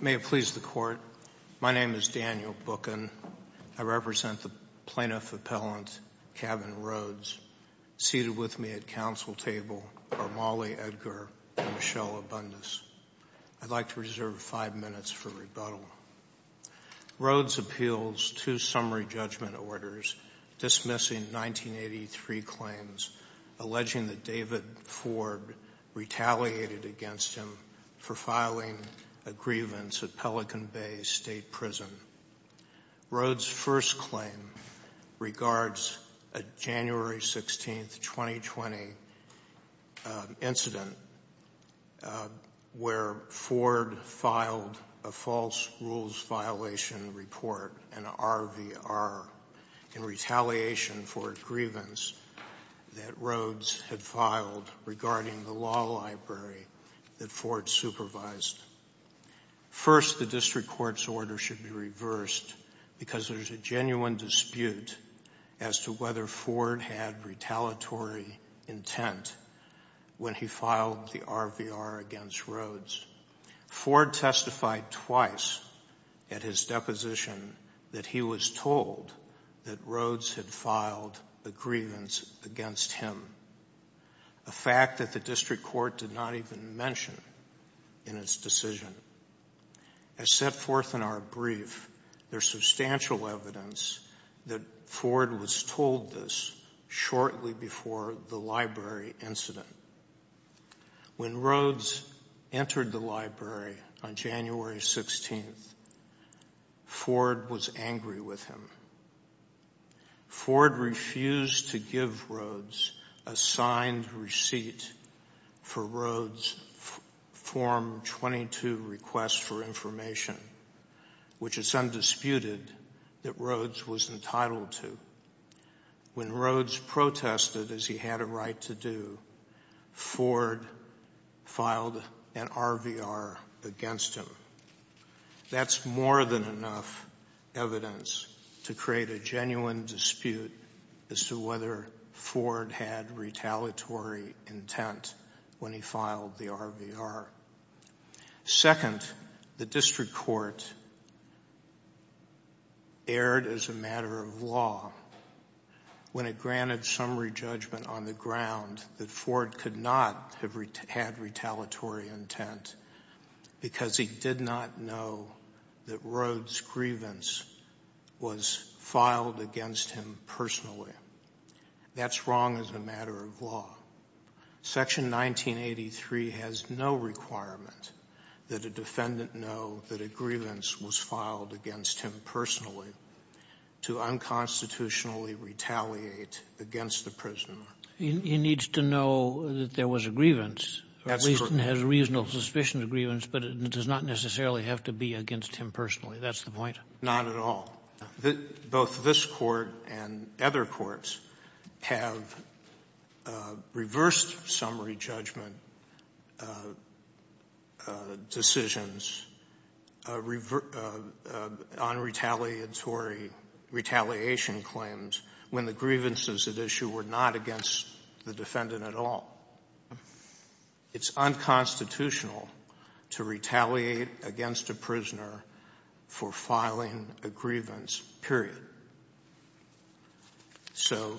May it please the Court, my name is Daniel Bookin. I represent the Plaintiff Appellant Kevin Rhodes, seated with me at Council Table are Molly Edgar and Michelle Abundas. I'd like to reserve five minutes for rebuttal. Rhodes appeals two summary judgment orders dismissing 1983 claims alleging that David Ford retaliated against him for filing a grievance at Pelican Bay State Prison. Rhodes' first claim regards a January 16, 2020 incident where Ford filed a false rules violation report, an RVR, in retaliation for a grievance that Rhodes had filed regarding the law library that Ford supervised. First, the District Court's order should be reversed because there's a genuine dispute as to whether Ford had retaliatory intent when he filed the RVR against Rhodes. Ford testified twice at his deposition that he was told that Rhodes had filed a grievance against him, a fact that the District Court did not even mention in its decision. As set forth in our brief, there's substantial evidence that Ford was told this shortly before the library incident. When Rhodes entered the library on January 16, Ford was angry with him. Ford refused to give Rhodes a signed receipt for Rhodes' Form 22 request for information, which is undisputed that Rhodes was entitled to. When Rhodes protested as he had a right to do, Ford filed an RVR against him. That's more than enough evidence to create a genuine dispute as to whether Ford had retaliatory intent when he filed the RVR. Second, the District Court erred as a matter of law when it granted summary judgment on the ground that Ford could not have had retaliatory intent because he did not know that Rhodes' grievance was filed against him personally. That's wrong as a matter of law. Section 1983 has no requirement that a defendant know that a grievance was filed against him personally to unconstitutionally retaliate against the prisoner. He needs to know that there was a grievance. That's correct. At least it has a reasonable suspicion of grievance, but it does not necessarily have to be against him personally. That's the point. Not at all. Both this Court and other courts have reversed summary judgment decisions on retaliatory retaliation claims when the grievances at issue were not against the defendant at all. It's unconstitutional to retaliate against a prisoner for filing a grievance, period. So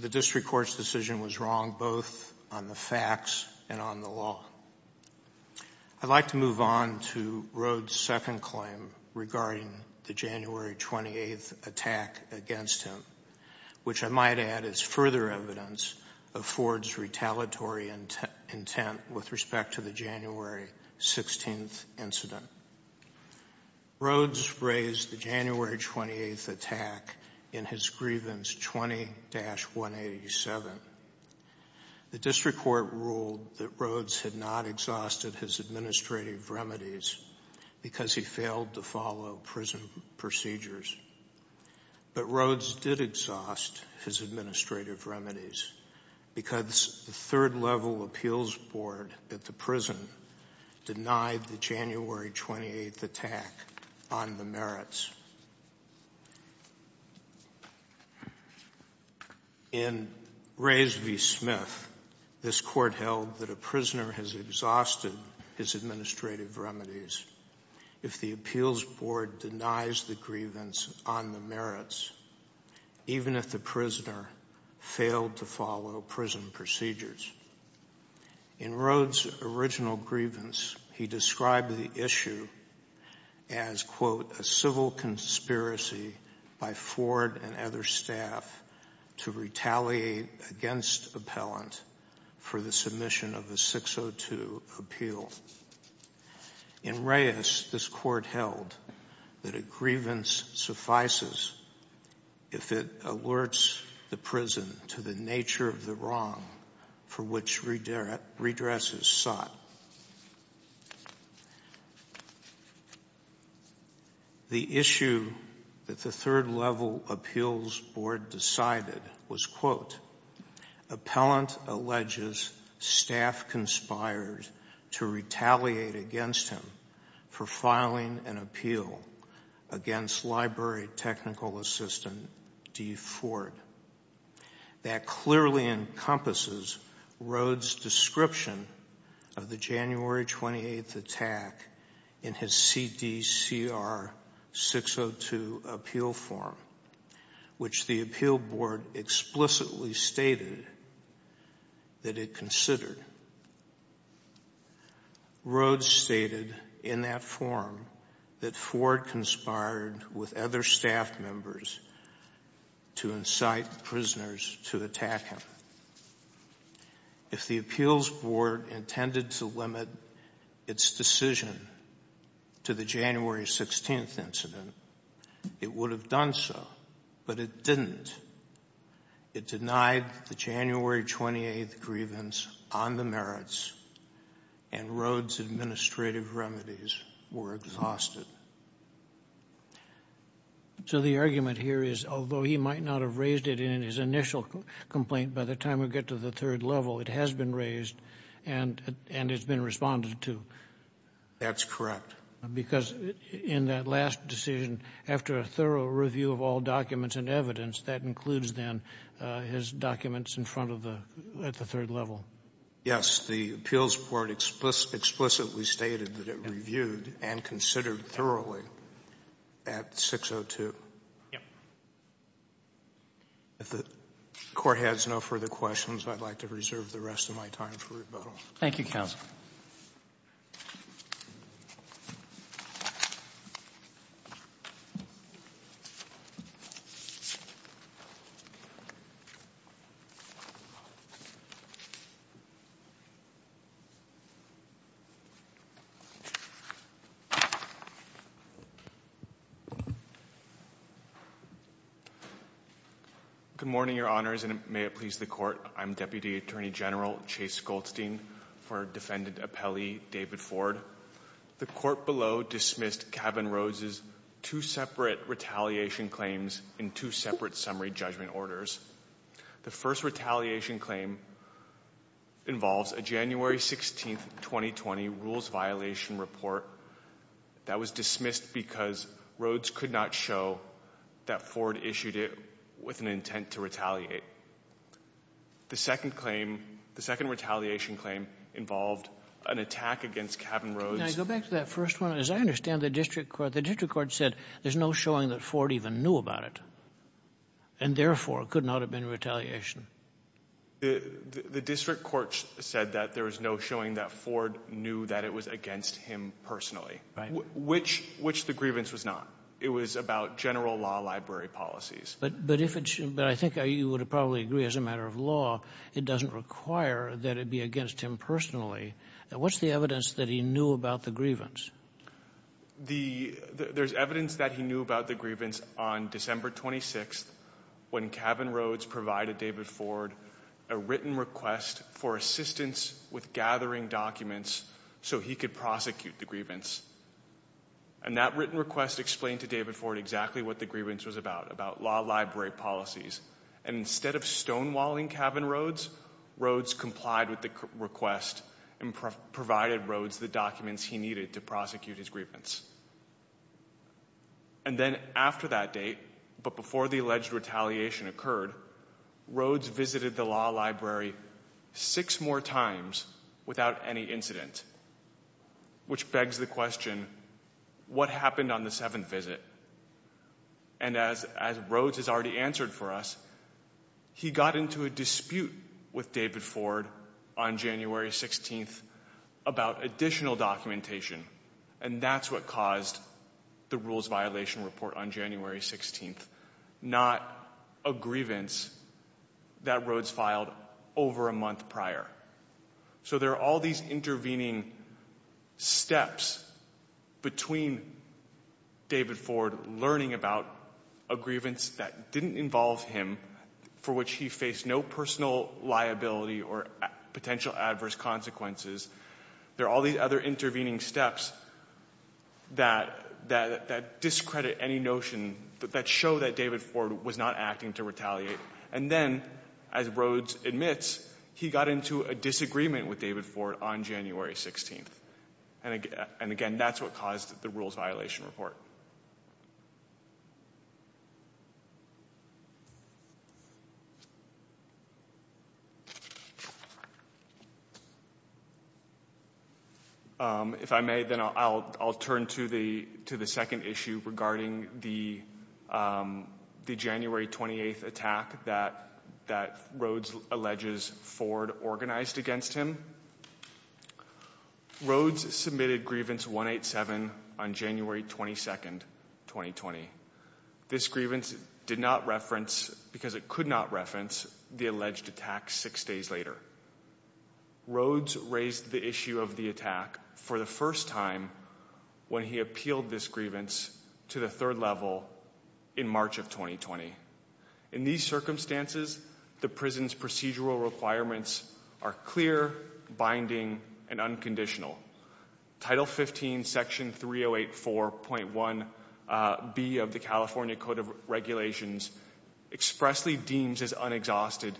the District Court's decision was wrong both on the facts and on the law. I'd like to move on to Rhodes' second claim regarding the January 28th attack against him, which I might add is further evidence of Ford's retaliatory intent with respect to the January 16th incident. Rhodes raised the January 28th attack in his grievance 20-187. The District Court ruled that Rhodes had not exhausted his administrative remedies because he failed to follow prison procedures. But Rhodes did exhaust his administrative remedies because the third-level appeals board at the prison denied the January 28th attack on the merits. In Rays v. Smith, this Court held that a prisoner has exhausted his administrative remedies if the appeals board denies the grievance on the merits, even if the prisoner failed to follow prison procedures. In Rhodes' original grievance, he described the issue as, quote, a civil conspiracy by Ford and other staff to retaliate against appellant for the submission of a 602 appeal. In Rays, this Court held that a grievance suffices if it alerts the prison to the nature of the wrong for which redress is sought. The issue that the third-level appeals board decided was, quote, appellant alleges staff conspired to retaliate against him for filing an appeal against library technical assistant D. Ford. That clearly encompasses Rhodes' description of the January 28th attack in his CDCR 602 appeal form, which the appeal board explicitly stated that it considered. Rhodes stated in that form that Ford conspired with other staff members to incite prisoners to attack him. If the appeals board intended to limit its decision to the January 16th incident, it would have done so, but it didn't. It denied the January 28th grievance on the merits, and Rhodes' administrative remedies were exhausted. So the argument here is, although he might not have raised it in his initial complaint by the time we get to the third level, it has been raised, and it's been responded to. That's correct. Because in that last decision, after a thorough review of all documents and evidence, that includes, then, his documents in front of the at the third level. Yes. The appeals board explicitly stated that it reviewed and considered thoroughly at 602. Yes. If the Court has no further questions, I'd like to reserve the rest of my time for rebuttal. Thank you, counsel. Thank you. Good morning, Your Honors, and may it please the Court. I'm Deputy Attorney General Chase Goldstein for Defendant Appellee David Ford. The Court below dismissed Kavan Rhodes' two separate retaliation claims in two separate summary judgment orders. The first retaliation claim involves a January 16th, 2020, rules violation report that was dismissed because Rhodes could not show that Ford issued it with an intent to retaliate. The second claim, the second retaliation claim, involved an attack against Kavan Rhodes. Can I go back to that first one? As I understand, the district court said there's no showing that Ford even knew about it, and, therefore, it could not have been retaliation. The district court said that there was no showing that Ford knew that it was against him personally. Right. Which the grievance was not. It was about general law library policies. But if it's — but I think you would probably agree, as a matter of law, it doesn't require that it be against him personally. What's the evidence that he knew about the grievance? The — there's evidence that he knew about the grievance on December 26th, when Kavan Rhodes provided David Ford a written request for assistance with gathering documents so he could prosecute the grievance. And that written request explained to David Ford exactly what the grievance was about, about law library policies. And instead of stonewalling Kavan Rhodes, Rhodes complied with the request and provided Rhodes the documents he needed to prosecute his grievance. And then after that date, but before the alleged retaliation occurred, Rhodes visited the law library six more times without any incident, which begs the question, what happened on the seventh visit? And as Rhodes has already answered for us, he got into a dispute with David Ford on January 16th about additional documentation. And that's what caused the rules violation report on January 16th, not a grievance that Rhodes filed over a month prior. So there are all these intervening steps between David Ford learning about a grievance that didn't involve him, for which he faced no personal liability or potential adverse consequences. There are all these other intervening steps that discredit any notion that show that David Ford was not acting to retaliate. And then, as Rhodes admits, he got into a disagreement with David Ford on January 16th. And again, that's what caused the rules violation report. If I may, then I'll turn to the second issue regarding the January 28th attack that Rhodes alleges Ford organized against him. Rhodes submitted grievance 187 on January 22nd, 2020. This grievance did not reference, because it could not reference, the alleged attack six days later. Rhodes raised the issue of the attack for the first time when he appealed this grievance to the third level in March of 2020. In these circumstances, the prison's procedural requirements are clear, binding, and unconditional. Title 15, Section 3084.1b of the California Code of Regulations expressly deems as unexhausted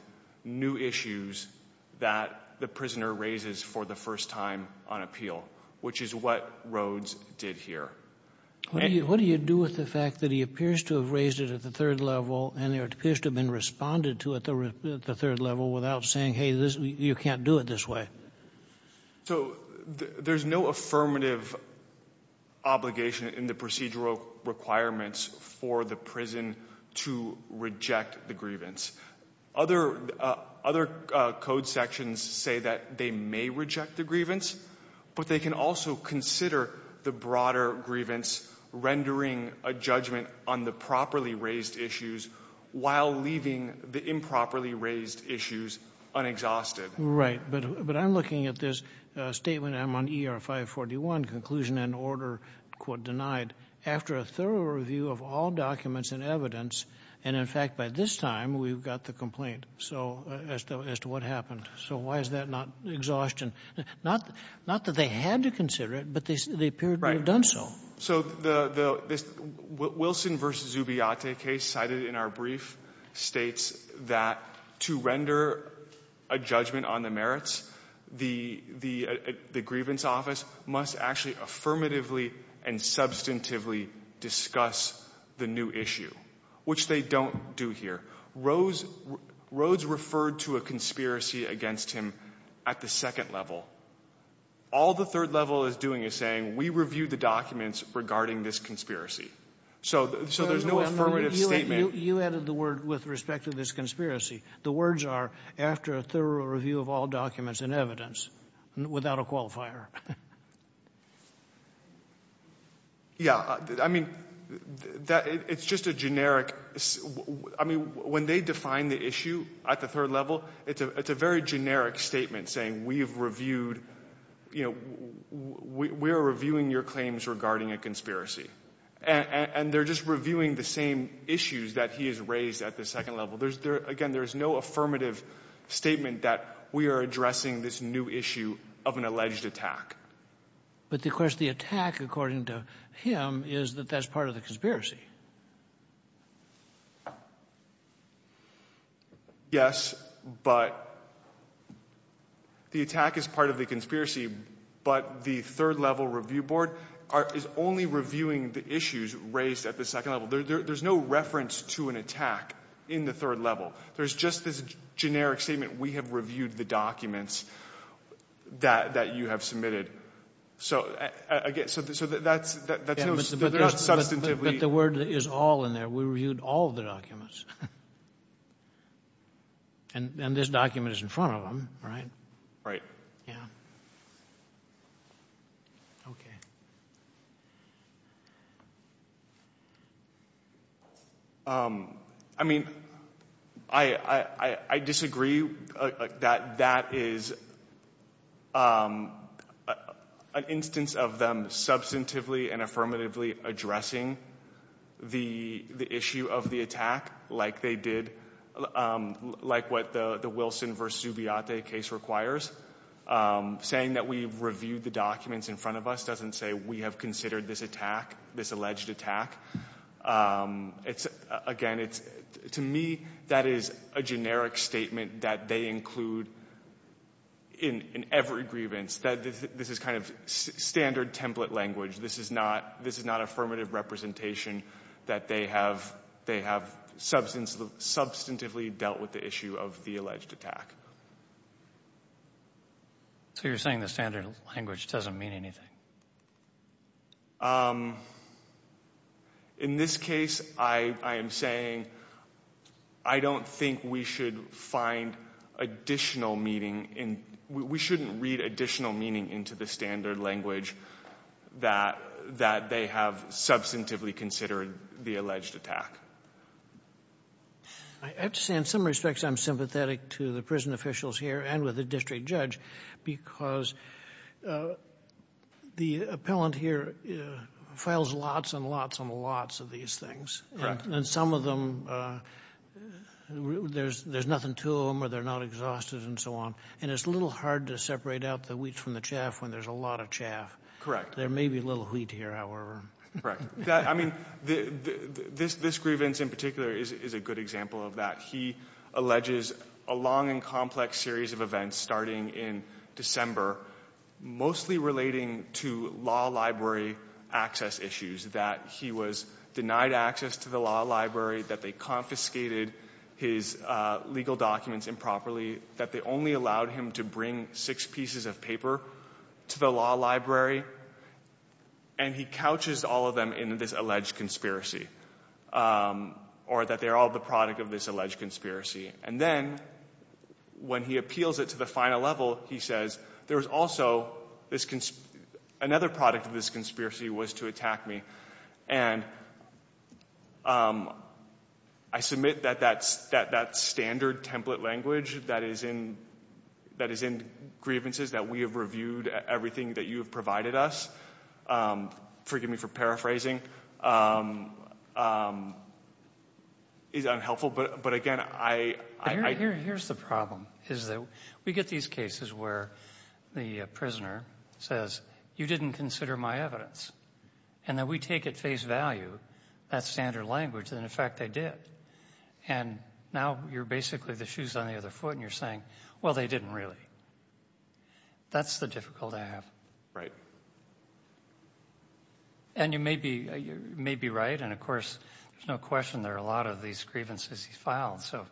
new issues that the prisoner raises for the first time on appeal, which is what Rhodes did here. What do you do with the fact that he appears to have raised it at the third level and it appears to have been responded to at the third level without saying, hey, you can't do it this way? So there's no affirmative obligation in the procedural requirements for the prison to reject the grievance. Other code sections say that they may reject the grievance, but they can also consider the broader grievance, rendering a judgment on the properly raised issues while leaving the improperly raised issues unexhausted. Right, but I'm looking at this statement. I'm on ER 541, conclusion and order, quote, denied. After a thorough review of all documents and evidence, and in fact, by this time, we've got the complaint as to what happened. So why is that not exhaustion? Not that they had to consider it, but they appear to have done so. So the Wilson v. Zubiate case cited in our brief states that to render a judgment on the merits, the grievance office must actually affirmatively and substantively discuss the new issue, which they don't do here. Rhodes referred to a conspiracy against him at the second level. All the third level is doing is saying, we reviewed the documents regarding this conspiracy. So there's no affirmative statement. You added the word with respect to this conspiracy. The words are, after a thorough review of all documents and evidence, without a qualifier. Yeah. I mean, it's just a generic. I mean, when they define the issue at the third level, it's a very generic statement saying we've reviewed, you know, we are reviewing your claims regarding a conspiracy. And they're just reviewing the same issues that he has raised at the second level. Again, there is no affirmative statement that we are addressing this new issue of an alleged attack. But, of course, the attack, according to him, is that that's part of the conspiracy. Yes, but the attack is part of the conspiracy, but the third level review board is only reviewing the issues raised at the second level. There's no reference to an attack in the third level. There's just this generic statement, we have reviewed the documents that you have submitted. So that's not substantively. But the word is all in there. We reviewed all of the documents. And this document is in front of them, right? Right. Yeah. Okay. I mean, I disagree that that is an instance of them substantively and affirmatively addressing the issue of the attack like they did, like what the Wilson v. Zubiate case requires. Saying that we reviewed the documents in front of us doesn't say we have considered this attack, this alleged attack. Again, to me, that is a generic statement that they include in every grievance. This is kind of standard template language. This is not affirmative representation that they have substantively dealt with the issue of the alleged attack. So you're saying the standard language doesn't mean anything? In this case, I am saying I don't think we should find additional meaning in, we shouldn't read additional meaning into the standard language that they have substantively considered the alleged attack. I have to say, in some respects, I'm sympathetic to the prison officials here and with the district judge because the appellant here files lots and lots and lots of these things. And some of them, there's nothing to them or they're not exhausted and so on. And it's a little hard to separate out the wheat from the chaff when there's a lot of chaff. Correct. There may be a little wheat here, however. Correct. I mean, this grievance in particular is a good example of that. He alleges a long and complex series of events starting in December, mostly relating to law library access issues, that he was denied access to the law library, that they confiscated his legal documents improperly, that they only allowed him to bring six pieces of paper to the law library, and he couches all of them in this alleged conspiracy, or that they're all the product of this alleged conspiracy. And then when he appeals it to the final level, he says, there's also this, another product of this conspiracy was to attack me. And I submit that that standard template language that is in grievances, that we have reviewed everything that you have provided us, forgive me for paraphrasing, is unhelpful. But, again, I... Here's the problem, is that we get these cases where the prisoner says, you didn't consider my evidence. And then we take at face value that standard language, and, in fact, they did. And now you're basically the shoes on the other foot, and you're saying, well, they didn't really. That's the difficulty I have. Right. And you may be right, and, of course, there's no question there are a lot of these grievances he's filed, so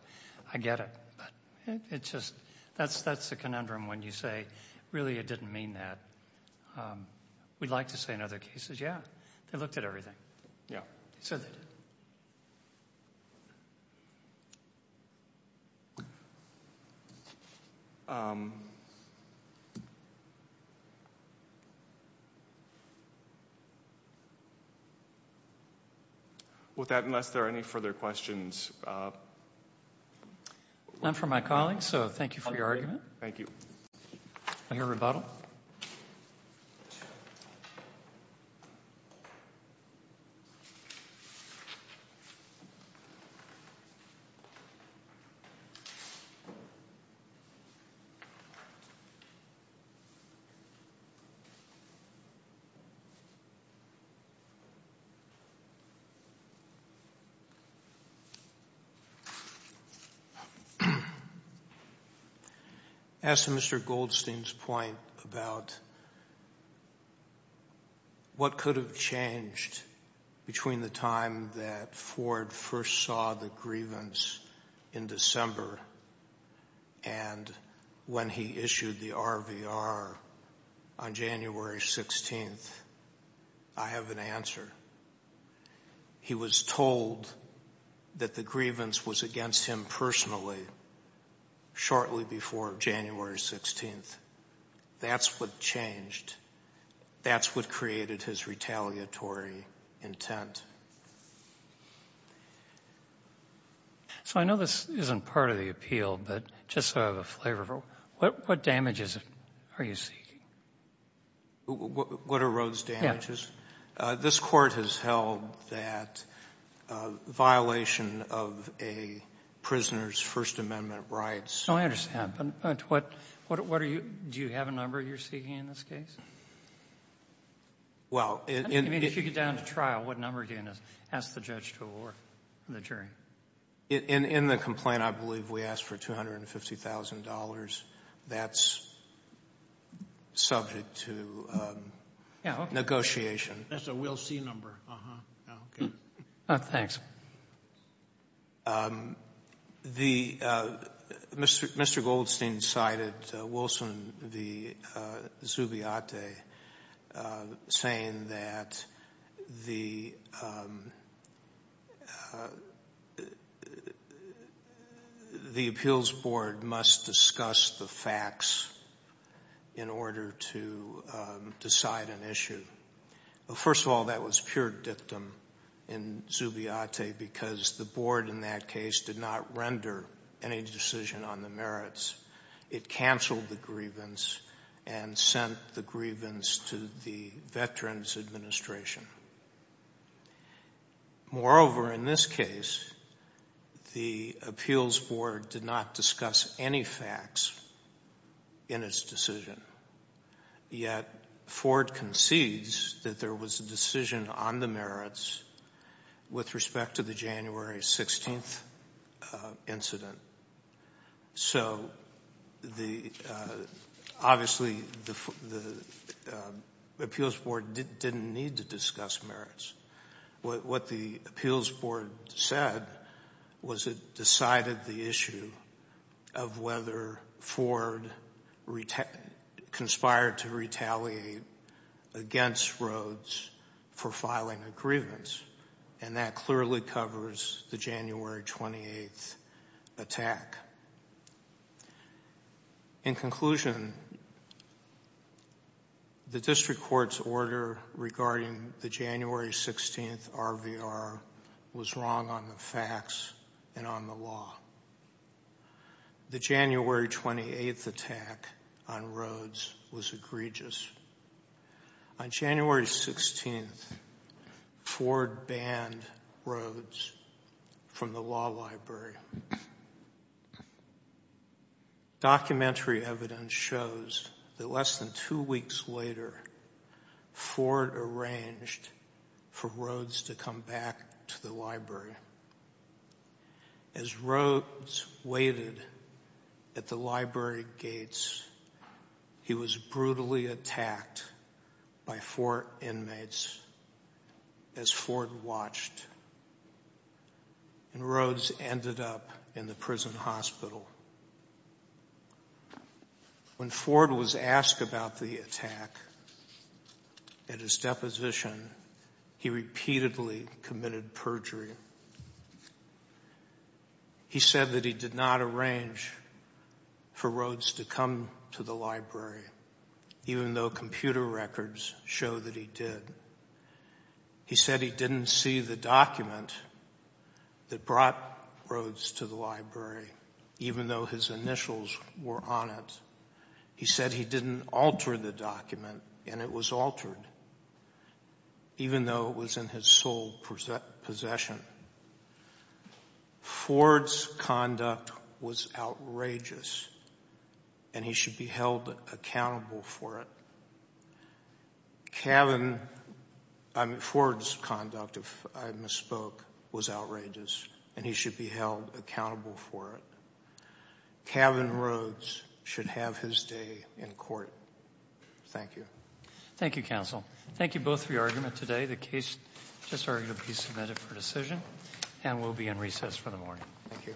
I get it. But it's just, that's the conundrum when you say, really, it didn't mean that. We'd like to say in other cases, yeah, they looked at everything. Yeah. He said that. With that, unless there are any further questions... None from my colleagues, so thank you for your argument. Thank you. Any rebuttal? No. What could have changed between the time that Ford first saw the grievance in December and when he issued the RVR on January 16th? I have an answer. He was told that the grievance was against him personally shortly before January 16th. That's what changed. That's what created his retaliatory intent. So I know this isn't part of the appeal, but just so I have a flavor for it, what damages are you seeking? What are Rhodes damages? Yeah. This Court has held that violation of a prisoner's First Amendment rights. Oh, I understand. But what are you do you have a number you're seeking in this case? Well... I mean, if you get down to trial, what number are you going to ask the judge to award the jury? In the complaint, I believe we asked for $250,000. That's subject to negotiation. That's a we'll see number. Okay. Thanks. Mr. Goldstein cited Wilson v. Zubiate saying that the Appeals Board must discuss the facts in order to decide an issue. Well, first of all, that was pure dictum in Zubiate because the Board in that case did not render any decision on the merits. It canceled the grievance and sent the grievance to the Veterans Administration. Moreover, in this case, the Appeals Board did not discuss any facts in its decision. Yet, Ford concedes that there was a decision on the merits with respect to the January 16th incident. So, obviously, the Appeals Board didn't need to discuss merits. What the Appeals Board said was it decided the issue of whether Ford conspired to retaliate against Rhodes for filing a grievance. And that clearly covers the January 28th attack. In conclusion, the District Court's order regarding the January 16th RVR was wrong on the facts and on the law. The January 28th attack on Rhodes was egregious. On January 16th, Ford banned Rhodes from the law library. Documentary evidence shows that less than two weeks later, Ford arranged for Rhodes to come back to the library. As Rhodes waited at the library gates, he was brutally attacked by four inmates as Ford watched. And Rhodes ended up in the prison hospital. When Ford was asked about the attack at his deposition, he repeatedly committed perjury. He said that he did not arrange for Rhodes to come to the library, even though computer records show that he did. He said he didn't see the document that brought Rhodes to the library, even though his initials were on it. He said he didn't alter the document, and it was altered, even though it was in his sole possession. Ford's conduct was outrageous, and he should be held accountable for it. Ford's conduct, if I misspoke, was outrageous, and he should be held accountable for it. Cavan Rhodes should have his day in court. Thank you. Thank you, counsel. Thank you both for your argument today. The case just arguably submitted for decision, and we'll be in recess for the morning. Thank you. All rise. Thank you.